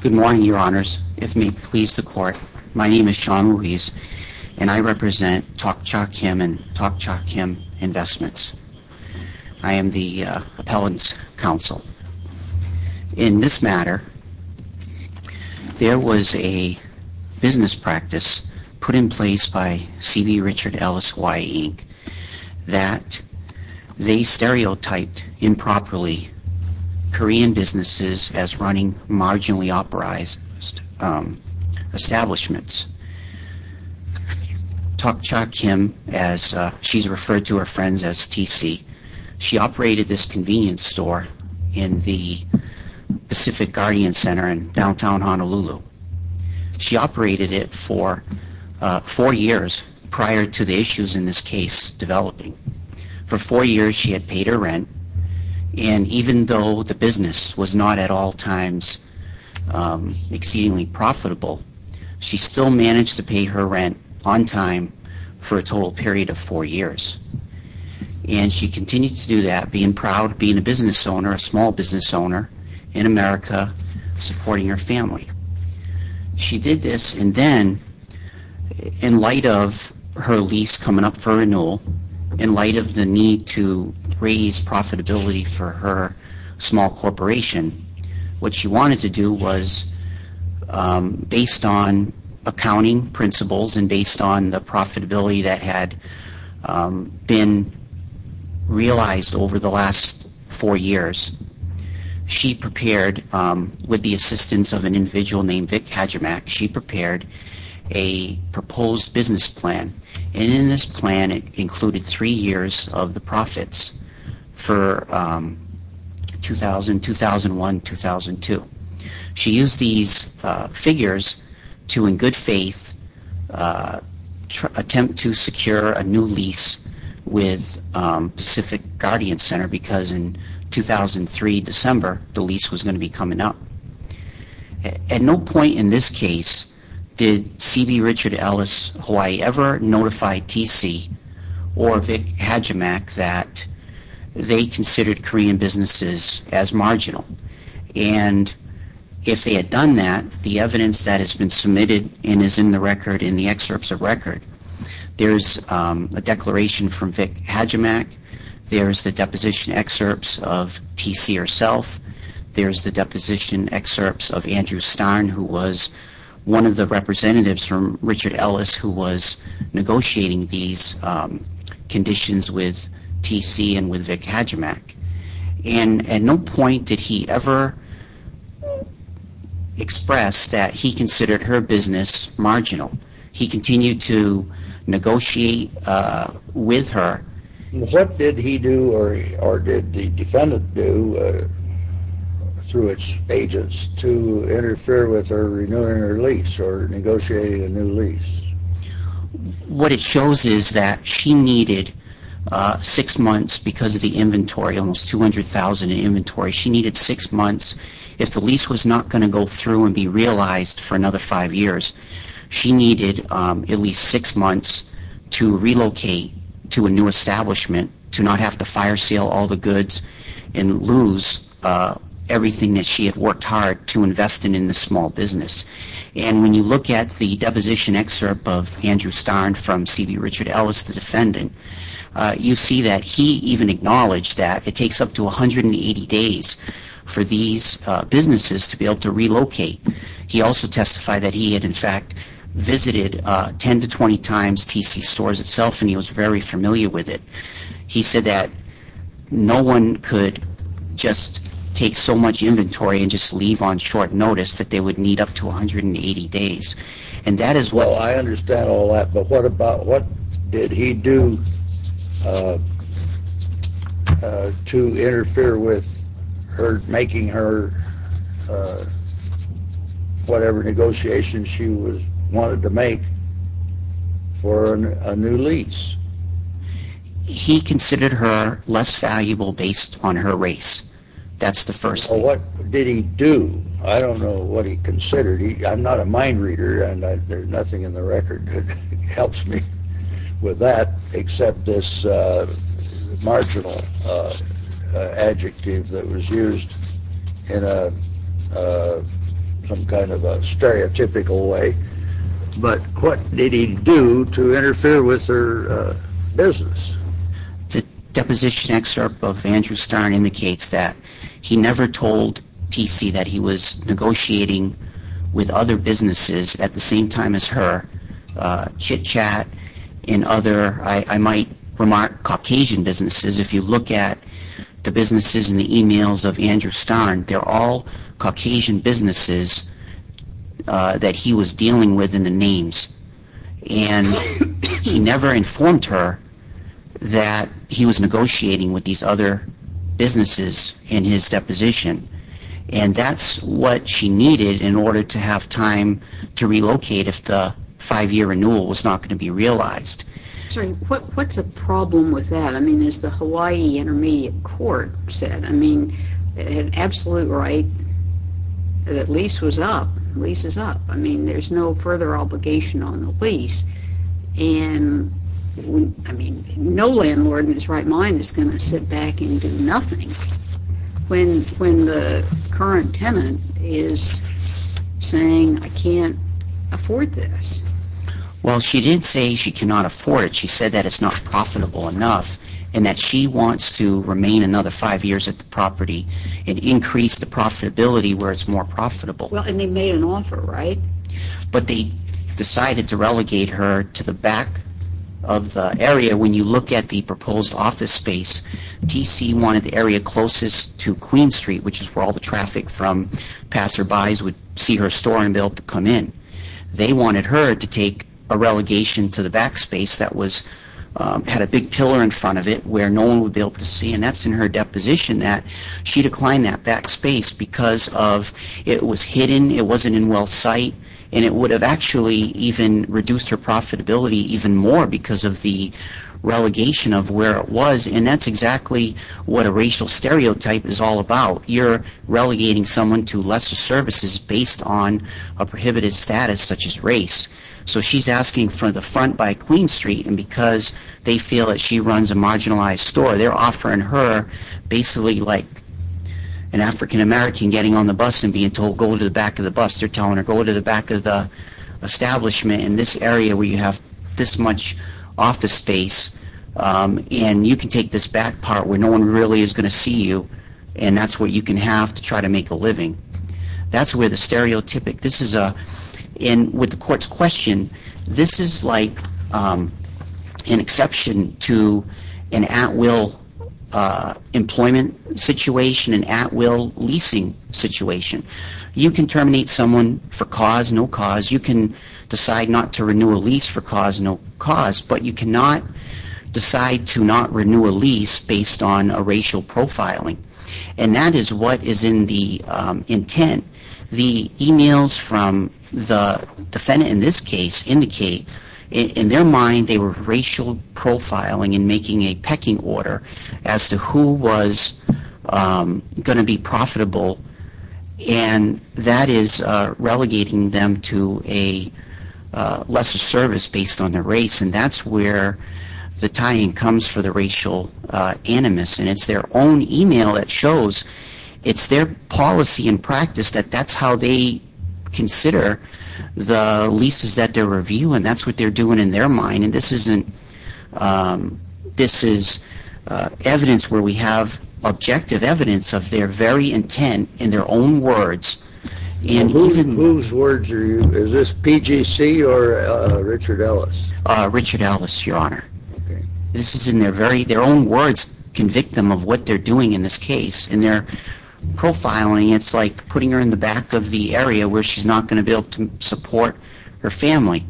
Good morning, Your Honors. If it may please the Court, my name is Sean Ruiz, and I represent Tokchak Kim and Tokchak Kim Investments. I am the Appellant's Counsel. In this matter, there was a business practice put in place by CB Richard Ellis Y. Inc. that they stereotyped improperly Korean businesses as running marginally authorized establishments. Tokchak Kim, as she's referred to her friends as T.C., she operated this convenience store in the Pacific Guardian Center in downtown Honolulu. She operated it for four years prior to the issues in this case developing. For four years she had paid her rent, and even though the business was not at all times exceedingly profitable, she still managed to pay her rent on time for a total period of four years. And she continued to do that, being proud, being a business owner, a small business owner in America, supporting her family. She did this, and then in light of her lease coming up for renewal, in light of the need to raise profitability for her small corporation, what she wanted to do was, based on accounting principles and based on the profitability that had been realized over the last four years, she prepared, with the assistance of an individual named Vic Hajimak, she prepared a proposed business plan. And in this plan it included three years of the profits for 2000, 2001, 2002. She used these figures to, in good faith, attempt to secure a new lease with Pacific Guardian Center because in 2003 December the lease was going to be coming up. At no point in this case did C.B. Richard Ellis Hawaii ever notify TC or Vic Hajimak that they considered Korean businesses as marginal. And if they had done that, the evidence that Vic Hajimak had, there's the deposition excerpts of TC herself, there's the deposition excerpts of Andrew Starn who was one of the representatives from Richard Ellis who was negotiating these conditions with TC and with Vic Hajimak. And at no point did he ever express that he considered her business marginal. He continued to negotiate with her. What did he do or did the defendant do through its agents to interfere with her renewing her lease or negotiating a new lease? What it shows is that she needed six months because of the inventory, almost 200,000 in inventory, she needed six months. If the lease was not going to go through and be realized for another five years, she needed at least six months to relocate to a new establishment to not have to fire sale all the goods and lose everything that she had worked hard to invest in in the small business. And when you look at the deposition excerpt of Andrew Starn from C.B. Richard Ellis, the defendant, you see that he even acknowledged that it takes up to 180 days for these businesses to be able to relocate. He also testified that he had in fact visited 10 to 20 times TC stores itself and he was very familiar with it. He said that no one could just take so much inventory and just leave on short notice that they would need up to 180 days. And that is what... Well, I understand her making her whatever negotiations she was wanted to make for a new lease. He considered her less valuable based on her race. That's the first thing. Well, what did he do? I don't know what he considered. I'm not a mind reader and there's with that except this marginal adjective that was used in some kind of a stereotypical way. But what did he do to interfere with her business? The deposition excerpt of Andrew Starn indicates that he never told TC that he was negotiating with other businesses at the same time as her. Chitchat and other, I might remark, Caucasian businesses. If you look at the businesses in the emails of Andrew Starn, they're all Caucasian businesses that he was dealing with in the names. And he never informed her that he was negotiating with these other businesses in his deposition. And that's what she needed in order to have time to relocate if the five-year renewal was not going to be realized. What's the problem with that? I mean, as the Hawaii Intermediate Court said, I mean, they had absolute right that lease was up. Lease is up. I mean, there's no further obligation on the lease. And I mean, no landlord in his right mind is going to sit back and do nothing when the current tenant is saying, I can't afford this. Well, she didn't say she cannot afford it. She said that it's not profitable enough and that she wants to remain another five years at the property and increase the profitability where it's more profitable. Well, and they made an offer, right? But they decided to relegate her to the back of the area. When you look at the proposed office T.C. wanted the area closest to Queen Street, which is where all the traffic from passerbys would see her store and be able to come in. They wanted her to take a relegation to the backspace that had a big pillar in front of it where no one would be able to see. And that's in her deposition that she declined that backspace because of it was hidden, it wasn't in well sight, and it would have actually even reduced her profitability even more because of the relegation of where it was and that's exactly what a racial stereotype is all about. You're relegating someone to lesser services based on a prohibited status such as race. So she's asking for the front by Queen Street and because they feel that she runs a marginalized store, they're offering her basically like an African American getting on the bus and being told go to the back of the bus. They're telling her go to the back of the establishment in this area where you have this much office space and you can take this back part where no one really is going to see you and that's what you can have to try to make a living. That's where the stereotypic, this is a, and with the court's question, this is like an exception to an at-will employment situation, an at-will leasing situation. You can terminate someone for cause, no cause, you can decide not to renew a lease for cause, no cause, but you cannot decide to not renew a lease based on a racial profiling and that is what is in the intent. The emails from the defendant in this case indicate in their mind they were racial profiling and making a pecking order as to who was going to be profitable and that is relegating them to a lesser service based on their race and that's where the tying comes for the racial animus and it's their own email that shows it's their policy and practice that that's how they consider the leases that they're reviewing. That's what they're doing in their mind and this isn't, this is evidence where we have objective evidence of their very intent in their own words. And whose words are you, is this PGC or Richard Ellis? Richard Ellis, your honor. This is in their very, their own words convict them of what they're doing in this case and they're profiling, it's like putting her in the back of the area where she's not going to be able to support her family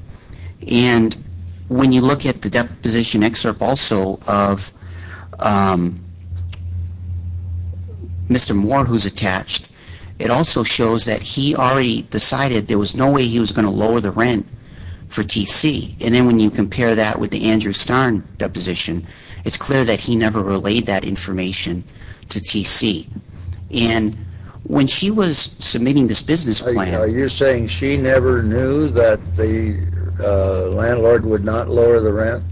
and when you look at the deposition excerpt also of Mr. Moore who's attached, it also shows that he already decided there was no way he was going to lower the rent for TC and then when you compare that with the Andrew Starn deposition, it's clear that he never relayed that information to TC and when she was submitting this business plan. Are you saying she never knew that the landlord would not lower the rent?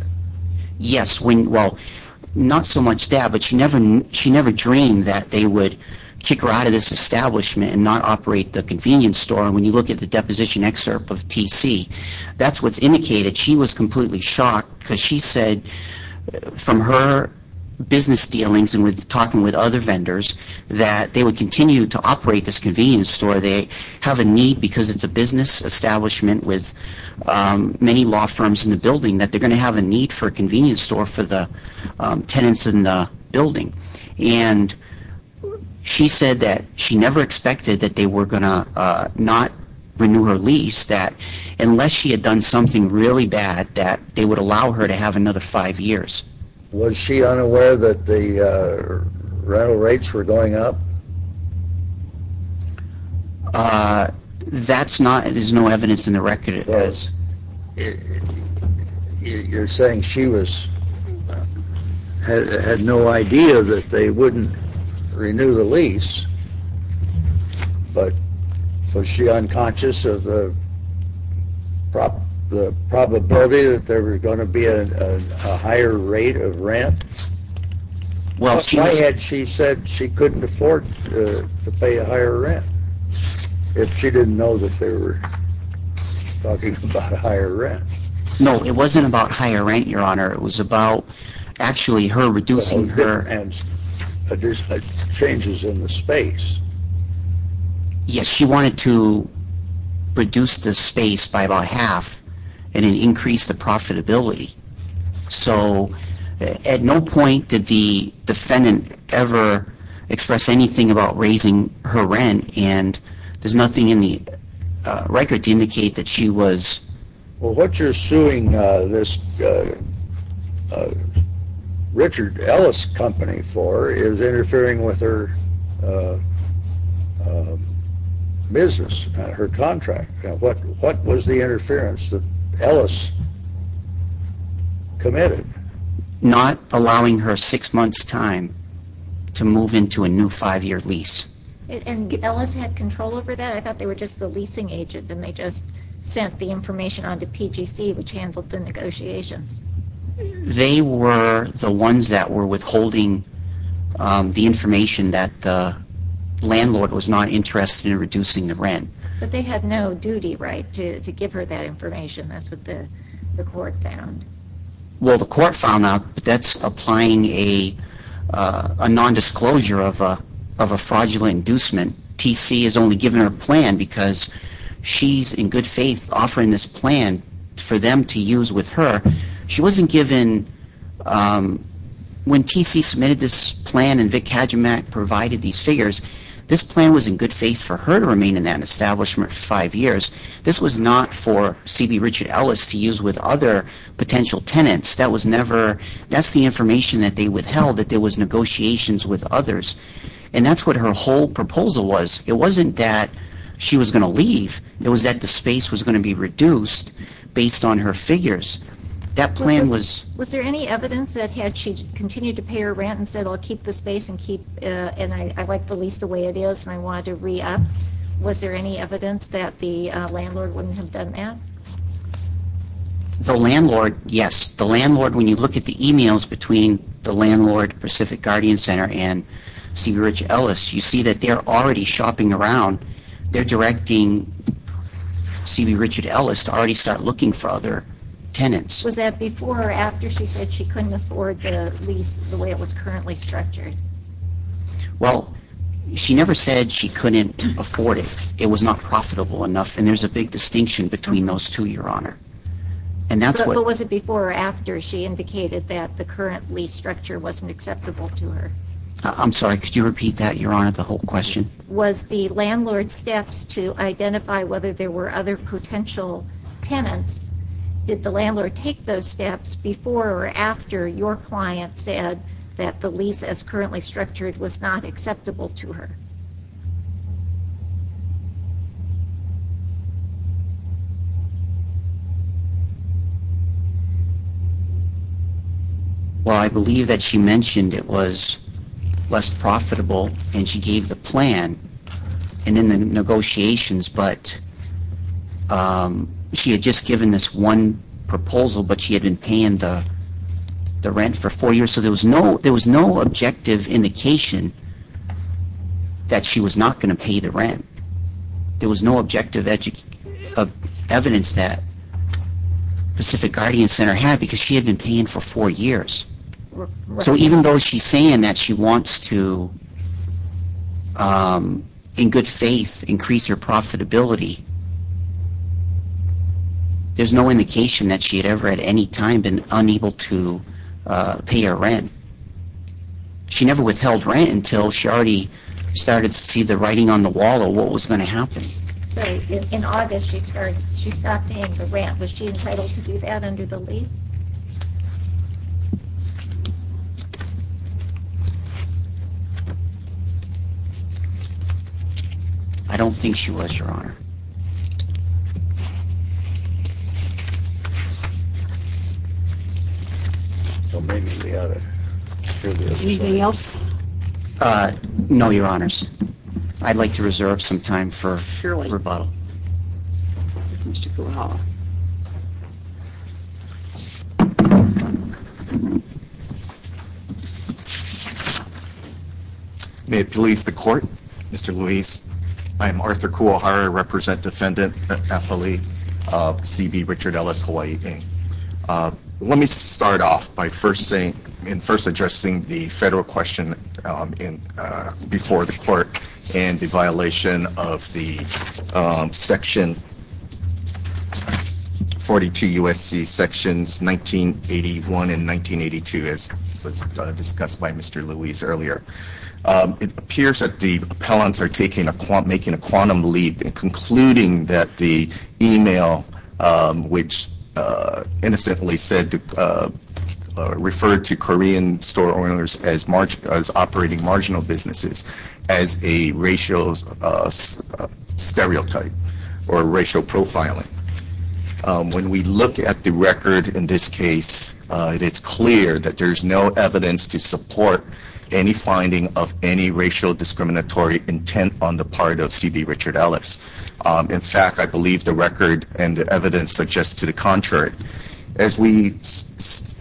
Yes, well not so much that, but she never dreamed that they would kick her out of this establishment and not operate the convenience store and when you look at the deposition excerpt of TC, that's what's indicated. She was completely shocked because she said from her business dealings and with talking with other vendors that they would continue to operate this convenience store. They have a need because it's a business establishment with many law firms in the building that they're going to have a need for a convenience store for the tenants in the building and she said that she never expected that they were going to not renew her lease that unless she had done something really bad that they would allow her to have another five years. Was she unaware that the rental rates were going up? That's not, there's no evidence in the record. You're saying she was, had no idea that they wouldn't renew the lease, but was she unconscious of the probability that there was going to be a higher rate of rent? Why had she said she couldn't afford to pay a higher rent if she didn't know that they were talking about a higher rent? No, it wasn't about higher rent, your honor. It was about actually her reducing her... Changes in the space. Yes, she wanted to reduce the space by about half and it increased the profitability. So at no point did the defendant ever express anything about raising her rent and there's nothing in the record to indicate that she was... Well, what you're suing this Richard Ellis company for is interfering with her business, her contract. What was the interference that Ellis committed? Not allowing her six months time to move into a new five-year lease. And Ellis had control over that? I thought they were just the leasing agent and they just sent the information on to PGC, which handled the negotiations. They were the ones that were withholding the information that the landlord was not interested in reducing the rent. But they had no duty right to give her that information, that's what the TC is only given her plan because she's in good faith offering this plan for them to use with her. She wasn't given... When TC submitted this plan and Vic Kajimak provided these figures, this plan was in good faith for her to remain in that establishment for five years. This was not for CB Richard Ellis to use with other potential tenants. That was never... That's the information that they withheld, that there was negotiations with others. And that's what her whole proposal was. It wasn't that she was going to leave, it was that the space was going to be reduced based on her figures. That plan was... Was there any evidence that had she continued to pay her rent and said, I'll keep the space and keep... And I like the lease the way it is and I wanted to re-up. Was there any evidence that the landlord wouldn't have done that? The landlord, yes. The landlord, when you look at the emails between the landlord, Pacific Guardian Center, and CB Richard Ellis, you see that they're already shopping around. They're directing CB Richard Ellis to already start looking for other tenants. Was that before or after she said she couldn't afford the lease the way it was currently structured? Well, she never said she couldn't afford it. It was not profitable enough. And there's a big distinction between those two, Your Honor. And that's what... Before or after she indicated that the current lease structure wasn't acceptable to her? I'm sorry, could you repeat that, Your Honor, the whole question? Was the landlord's steps to identify whether there were other potential tenants, did the landlord take those steps before or after your client said that the lease as currently structured was not acceptable to her? Well, I believe that she mentioned it was less profitable and she gave the plan in the negotiations, but she had just given this one proposal, but she had been paying the rent for four years. So there was no objective indication that she was not going to pay the rent. There was no objective evidence that Pacific Guardian Center had because she had been paying for four years. So even though she's saying that she wants to, in good faith, increase her profitability, there's no indication that she had ever at any time been unable to pay her rent. She never withheld rent until she already started to see the writing on the wall of what was going to happen. So in August, she stopped paying the rent. Was she entitled to do that under the lease? I don't think she was, Your Honor. Anything else? No, Your Honors. I'd like to reserve some time for rebuttal. May it please the Court, Mr. Luis. I am Arthur Kuohara. I represent Defendant Athlete C.B. Richard Ellis, Hawaii. Let me start off by first saying and first addressing the federal question before the Court and the violation of the section 42 U.S.C. Sections 1981 and 1982, as was discussed by Mr. Luis earlier. It appears that the appellants are making a quantum leap in concluding that the email, which innocently referred to Korean store owners as operating marginal businesses, as a racial stereotype or racial profiling. When we look at the record in this case, it is clear that there is no evidence to support any finding of any racial discriminatory intent on the part of C.B. Richard Ellis. In fact, I believe the record and the evidence suggest to the contrary. As based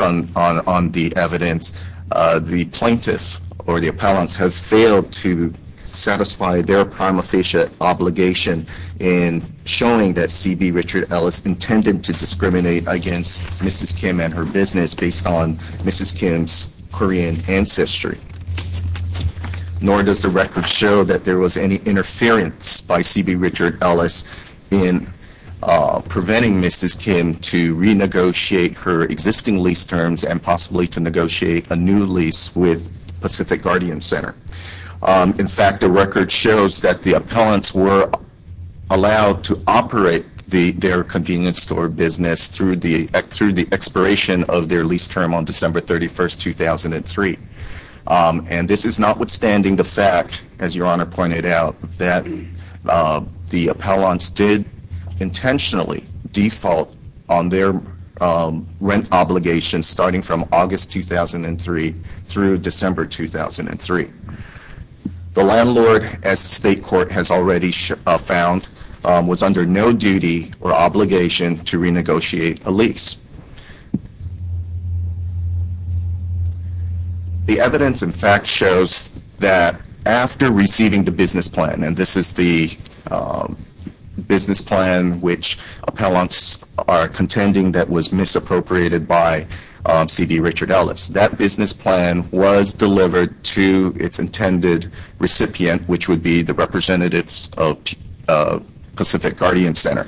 on the evidence, the plaintiffs or the appellants have failed to satisfy their prima facie obligation in showing that C.B. Richard Ellis intended to discriminate against Mrs. Kim and her business based on Mrs. Kim's Korean ancestry. Nor does the record show that there was any interference by C.B. possibly to negotiate a new lease with Pacific Guardian Center. In fact, the record shows that the appellants were allowed to operate their convenience store business through the expiration of their lease term on December 31, 2003. This is notwithstanding the fact, as Your Honor pointed out, that the appellants did intentionally default on their rent obligation starting from August 2003 through December 2003. The landlord, as the state court has already found, was under no duty or obligation to renegotiate a lease. The evidence, in fact, shows that after receiving the business plan, and this is the business plan which appellants are contending that was misappropriated by C.B. Richard Ellis, that business plan was delivered to its intended recipient, which would be the representatives of Pacific Guardian Center.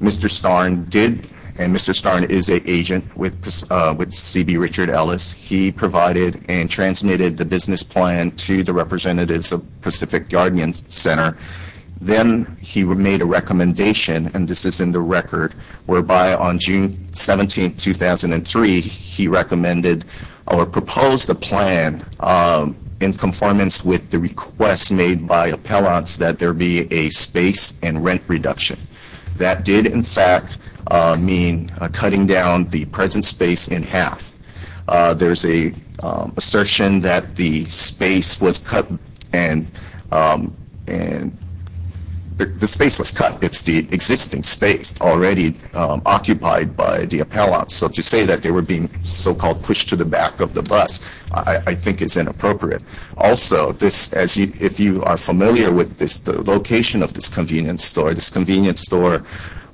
Mr. Starn did, and Mr. Starn did not, is an agent with C.B. Richard Ellis. He provided and transmitted the business plan to the representatives of Pacific Guardian Center. Then he made a recommendation, and this is in the record, whereby on June 17, 2003, he recommended or proposed a plan in conformance with the request made by appellants that there be a space and rent reduction. That did, in fact, mean cutting down the present space in half. There's an assertion that the space was cut, it's the existing space already occupied by the appellants. So to say that they were being so-called pushed to the back of the bus, I think is inappropriate. Also, if you are familiar with the location of this convenience store, this convenience store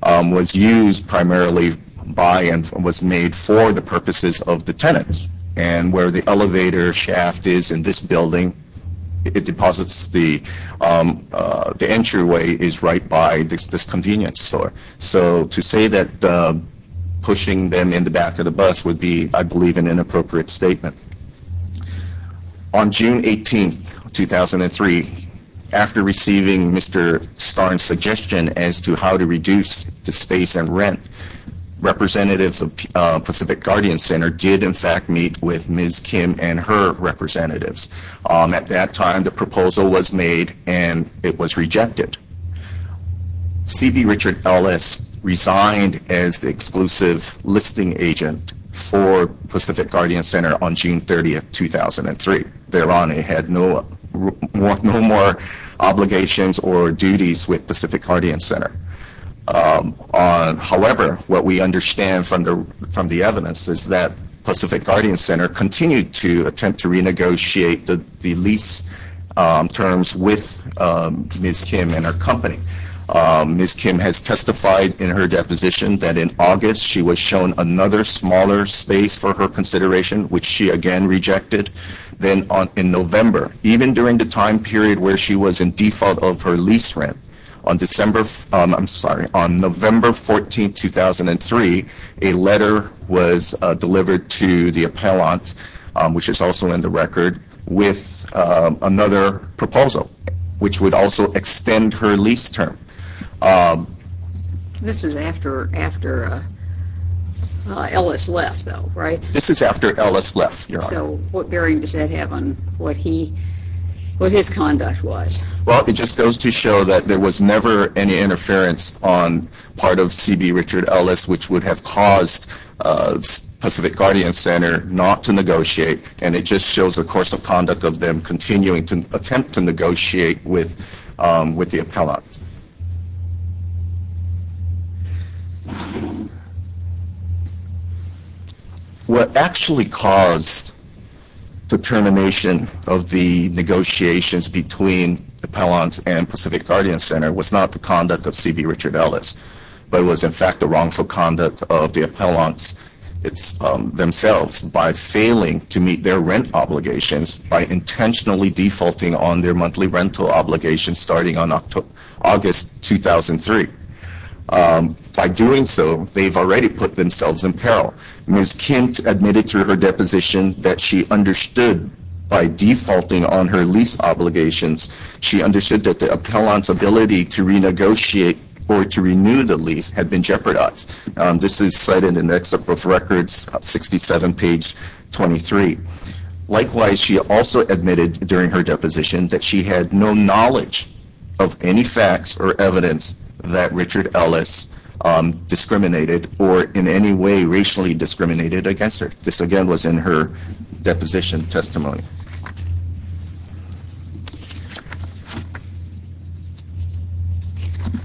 was used primarily by and was made for the purposes of the tenants, and where the elevator shaft is in this building, it deposits the entryway is right by this convenience store. So to say that pushing them in the back of the bus would be, I believe, an inappropriate statement. On June 18, 2003, after receiving Mr. Starnes' suggestion as to how to reduce the space and rent, representatives of Pacific Guardian Center did, in fact, meet with Ms. Kim and her representatives. At that time, the proposal was made and it was rejected. C.B. Richard Ellis resigned as the exclusive listing agent for Pacific Guardian Center on June 30, 2003. Thereon, he had no more obligations or duties with Pacific Guardian Center. However, what we understand from the evidence is that Pacific Guardian Center continued to attempt to renegotiate the lease terms with Ms. Kim and her company. Ms. Kim has testified in her deposition that in August, she was shown another smaller space for her consideration, which she again rejected. Then in November, even during the time period where she was in default of her lease rent, on November 14, 2003, a letter was delivered to the appellant, which is also in the record, with another proposal, which would also extend her lease term. This is after Ellis left, though, right? This is after Ellis left, Your Honor. So, what bearing does that have on what his conduct was? Well, it just goes to show that there was never any interference on part of C.B. Richard Ellis, which would have caused Pacific Guardian Center not to negotiate, and it just shows the course of conduct of them continuing to attempt to negotiate with the appellant. What actually caused the termination of the negotiations between the appellants and Pacific Guardian Center was not the conduct of C.B. Richard Ellis, but it was, in fact, the wrongful conduct of the appellants themselves by failing to meet their rent obligations by intentionally defaulting on their monthly rental obligations starting on August 2003. By doing so, they've already put themselves in peril. Ms. Kemp admitted to her deposition that she understood by defaulting on her lease obligations, she understood that the appellant's ability to renegotiate or to renew the lease had been jeopardized. This is cited in the records 67 page 23. Likewise, she also admitted during her deposition that she had no knowledge of any facts or evidence that Richard Ellis discriminated or in any way racially discriminated against her. This, again, was in her deposition testimony.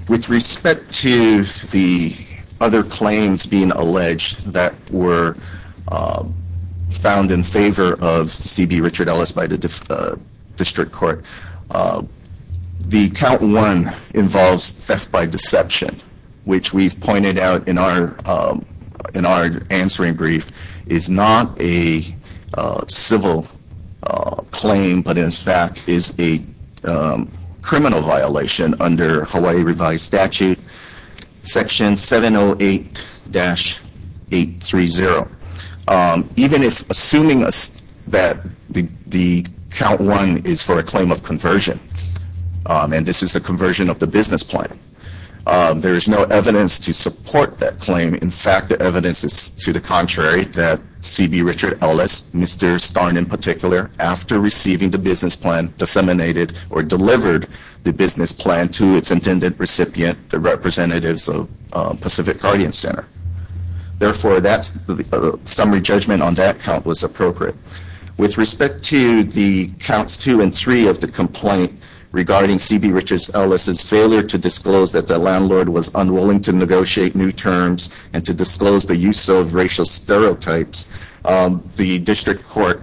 With respect to the other claims being alleged that were found in favor of C.B. Richard Ellis by the district court, the count one involves theft by deception, which we've pointed out in our answering brief, is not a civil claim, but in fact is a criminal violation under Hawaii revised statute, section 708-830. Even if assuming that the count one is for a claim of conversion, and this is a conversion of the business plan, there is no evidence to support that claim. In fact, there is no evidence to the contrary that C.B. Richard Ellis, Mr. Starn in particular, after receiving the business plan, disseminated or delivered the business plan to its intended recipient, the representatives of Pacific Guardian Center. Therefore, a summary judgment on that count was appropriate. With respect to the counts two and three of the complaint regarding C.B. Richard Ellis' use of racial stereotypes, the district court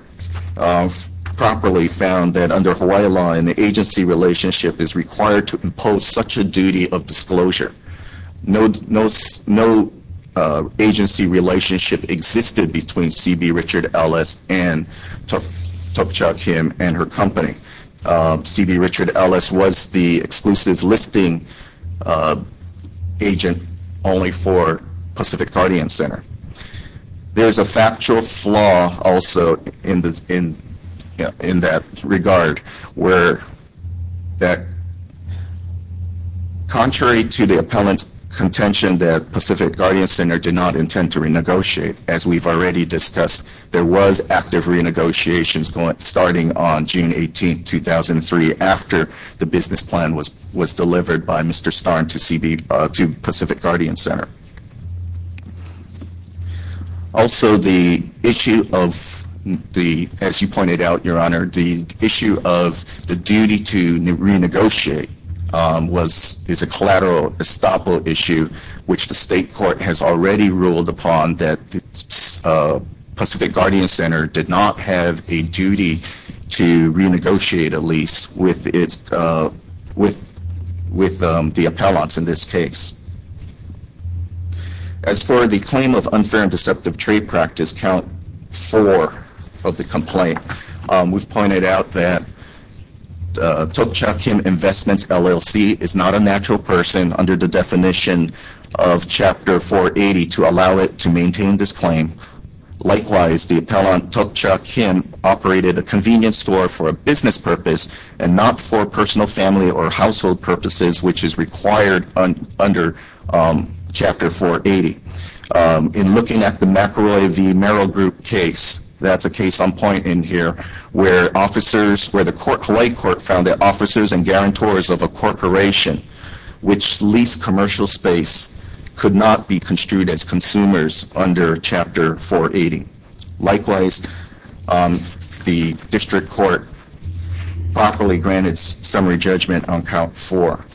properly found that under Hawaii law, an agency relationship is required to impose such a duty of disclosure. No agency relationship existed between C.B. Richard Ellis and Tokachuk Kim and her company. C.B. Richard Ellis was the exclusive listing agent only for Pacific Guardian Center. There's a factual flaw also in that regard, where that contrary to the appellant's contention that Pacific Guardian Center did not intend to renegotiate, as we've already discussed, there was active renegotiations going starting on June 18, 2003, after the business plan was delivered by Mr. Starn to Pacific Guardian Center. Also, the issue of the, as you pointed out, Your Honor, the issue of the duty to renegotiate was, is a collateral estoppel issue, which the state court has already ruled upon that the Pacific Guardian Center did not have a duty to renegotiate a lease with its, with, with the appellants in this case. As for the claim of unfair and deceptive trade practice, count four of the complaint, we've pointed out that Tokachuk Kim Investments LLC is not a natural person under the definition of Chapter 480 to allow it to maintain this claim. Likewise, the appellant Tokachuk Kim operated a convenience store for a business purpose and not for personal family or household purposes, which is required under Chapter 480. In looking at the McElroy v. Merrill Group case, that's a case on point in here, where officers, where the court, Hawaii Court, found that officers and guarantors of a corporation which leased commercial space could not be construed as consumers under Chapter 480. Likewise, the district court properly granted summary judgment on count four.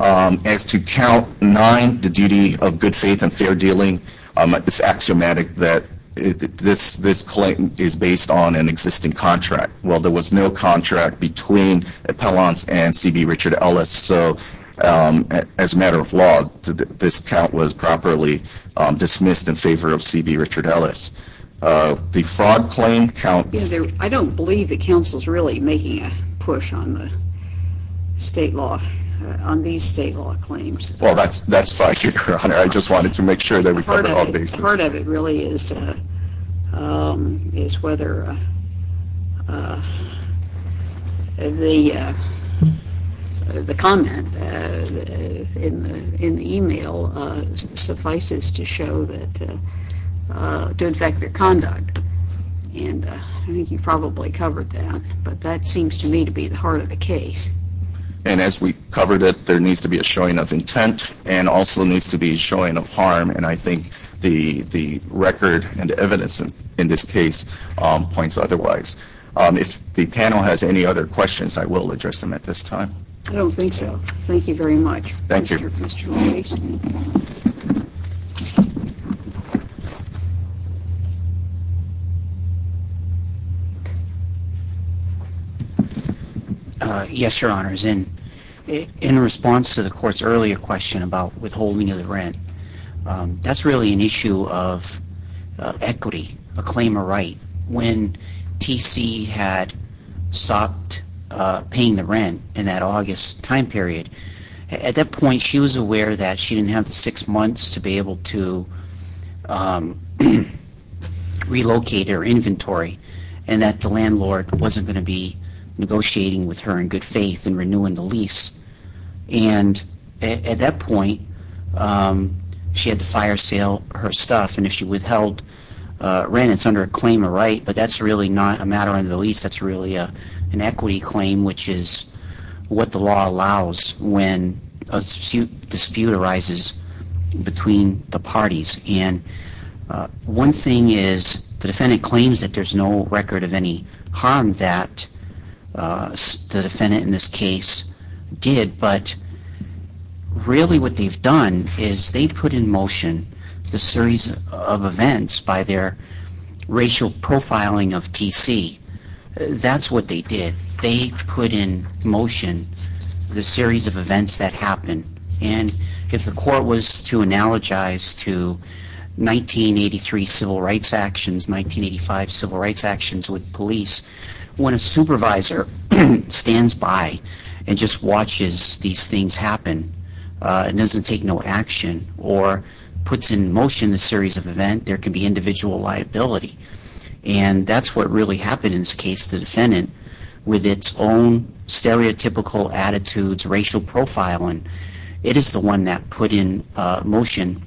As to count nine, the duty of good faith and fair dealing, it's axiomatic that this, this claim is based on an existing contract. Well, there was no contract between appellants and C.B. Richard Ellis, so as a matter of law, this count was properly dismissed in favor of C.B. Richard Ellis. The fraud claim count... I don't believe the council's really making a push on the state law, on these state law claims. Well, that's, that's fine, Your Honor. I just don't believe that the, the comment in the email suffices to show that, to infect their conduct, and I think you probably covered that, but that seems to me to be the heart of the case. And as we covered it, there needs to be a showing of intent and also needs to be a showing of harm, and I think the, the record and evidence in this case points otherwise. If the panel has any other questions, I will address them at this time. I don't think so. Thank you very much. Thank you. Yes, Your Honors. In, in response to the Court's earlier question about withholding of the rent, that's really an issue of equity, a claim of right. When T.C. had stopped paying the rent in that August time period, at that point she was aware that she didn't have the six months to be able to relocate her inventory, and that the landlord wasn't going to be negotiating with her for the entire sale, her stuff, and if she withheld rent, it's under a claim of right, but that's really not a matter under the lease, that's really an equity claim, which is what the law allows when a dispute arises between the parties. And one thing is, the defendant claims that there's no record of any harm that the defendant in this case did, but really what they've done is they've put in motion the series of events by their racial profiling of T.C. That's what they did. They put in motion the series of events that happened, and if the Court was to analogize to 1983 civil rights actions, 1985 civil rights actions with police, when a defendant doesn't take no action or puts in motion a series of events, there can be individual liability, and that's what really happened in this case. The defendant, with its own stereotypical attitudes, racial profiling, it is the one that put in motion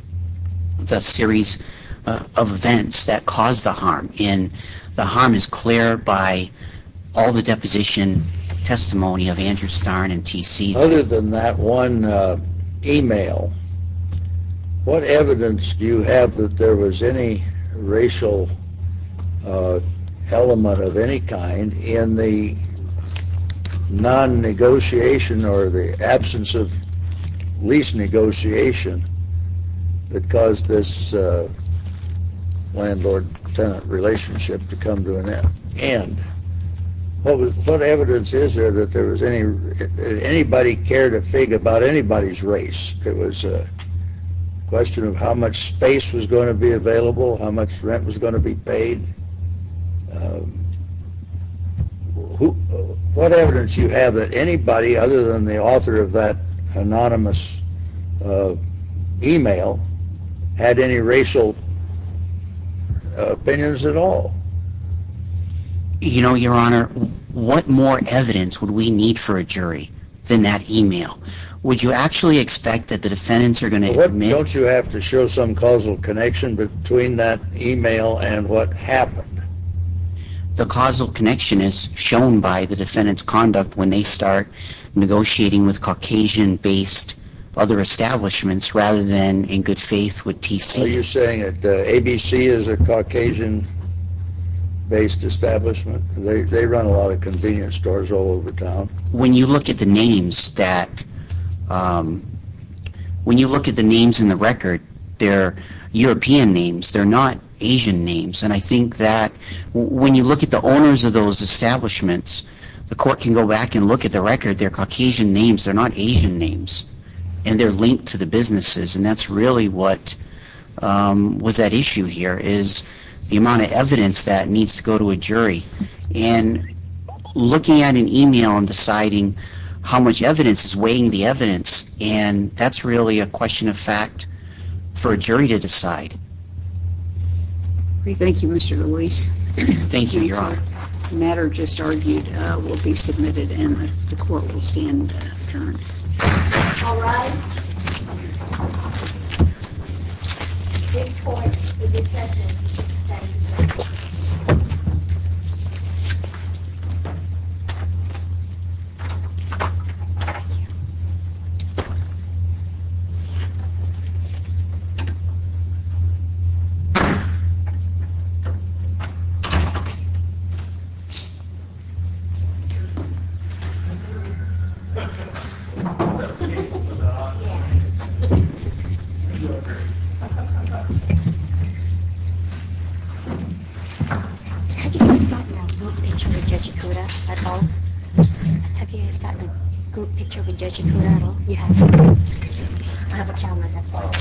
the series of events that caused the harm, and the harm is clear by all the deposition testimony of Andrew Starn and T.C. Other than that one email, what evidence do you have that there was any racial element of any kind in the non-negotiation or the absence of lease negotiation that caused this landlord-tenant relationship to come to an end? What evidence is there that there was any anybody cared a fig about anybody's race? It was a question of how much space was going to be available, how much rent was going to be paid. What evidence you have that anybody other than the author of that anonymous email had any racial opinions at all? You know, Your Honor, what more evidence would we need for a jury than that email? Would you actually expect that the defendants are going to admit? Don't you have to show some causal connection between that email and what happened? The causal connection is shown by the defendant's conduct when they start negotiating with Caucasian-based other establishments rather than, in good faith, with T.C. You're saying that ABC is a all over town? When you look at the names in the record, they're European names. They're not Asian names. And I think that when you look at the owners of those establishments, the court can go back and look at the record. They're Caucasian names. They're not Asian names. And they're linked to the businesses. And that's really what was at issue here is the amount of evidence that needs to be weighed when you go to a jury. And looking at an email and deciding how much evidence is weighing the evidence, and that's really a question of fact for a jury to decide. Thank you, Mr. Ruiz. Thank you, Your Honor. The matter just argued will be submitted and the court will stand adjourned. Have you guys gotten a group picture with Judge Ikuda at all? You haven't? I have a camera, that's all.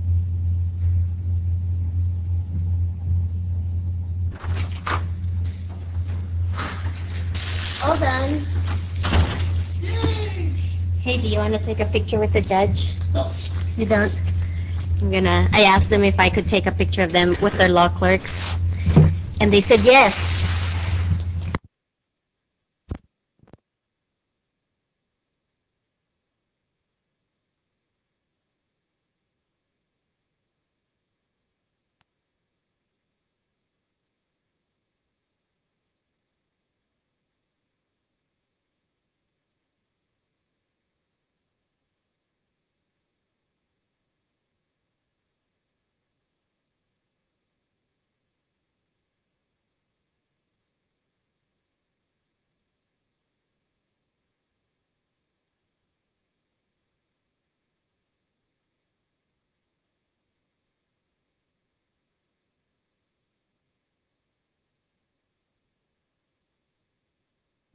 Hi, sir. How are you doing? Thank you. Thank you. All done. Hey, do you want to take a picture with the judge? You don't? I asked them if I could take a picture of them with their law clerks, and they said yes.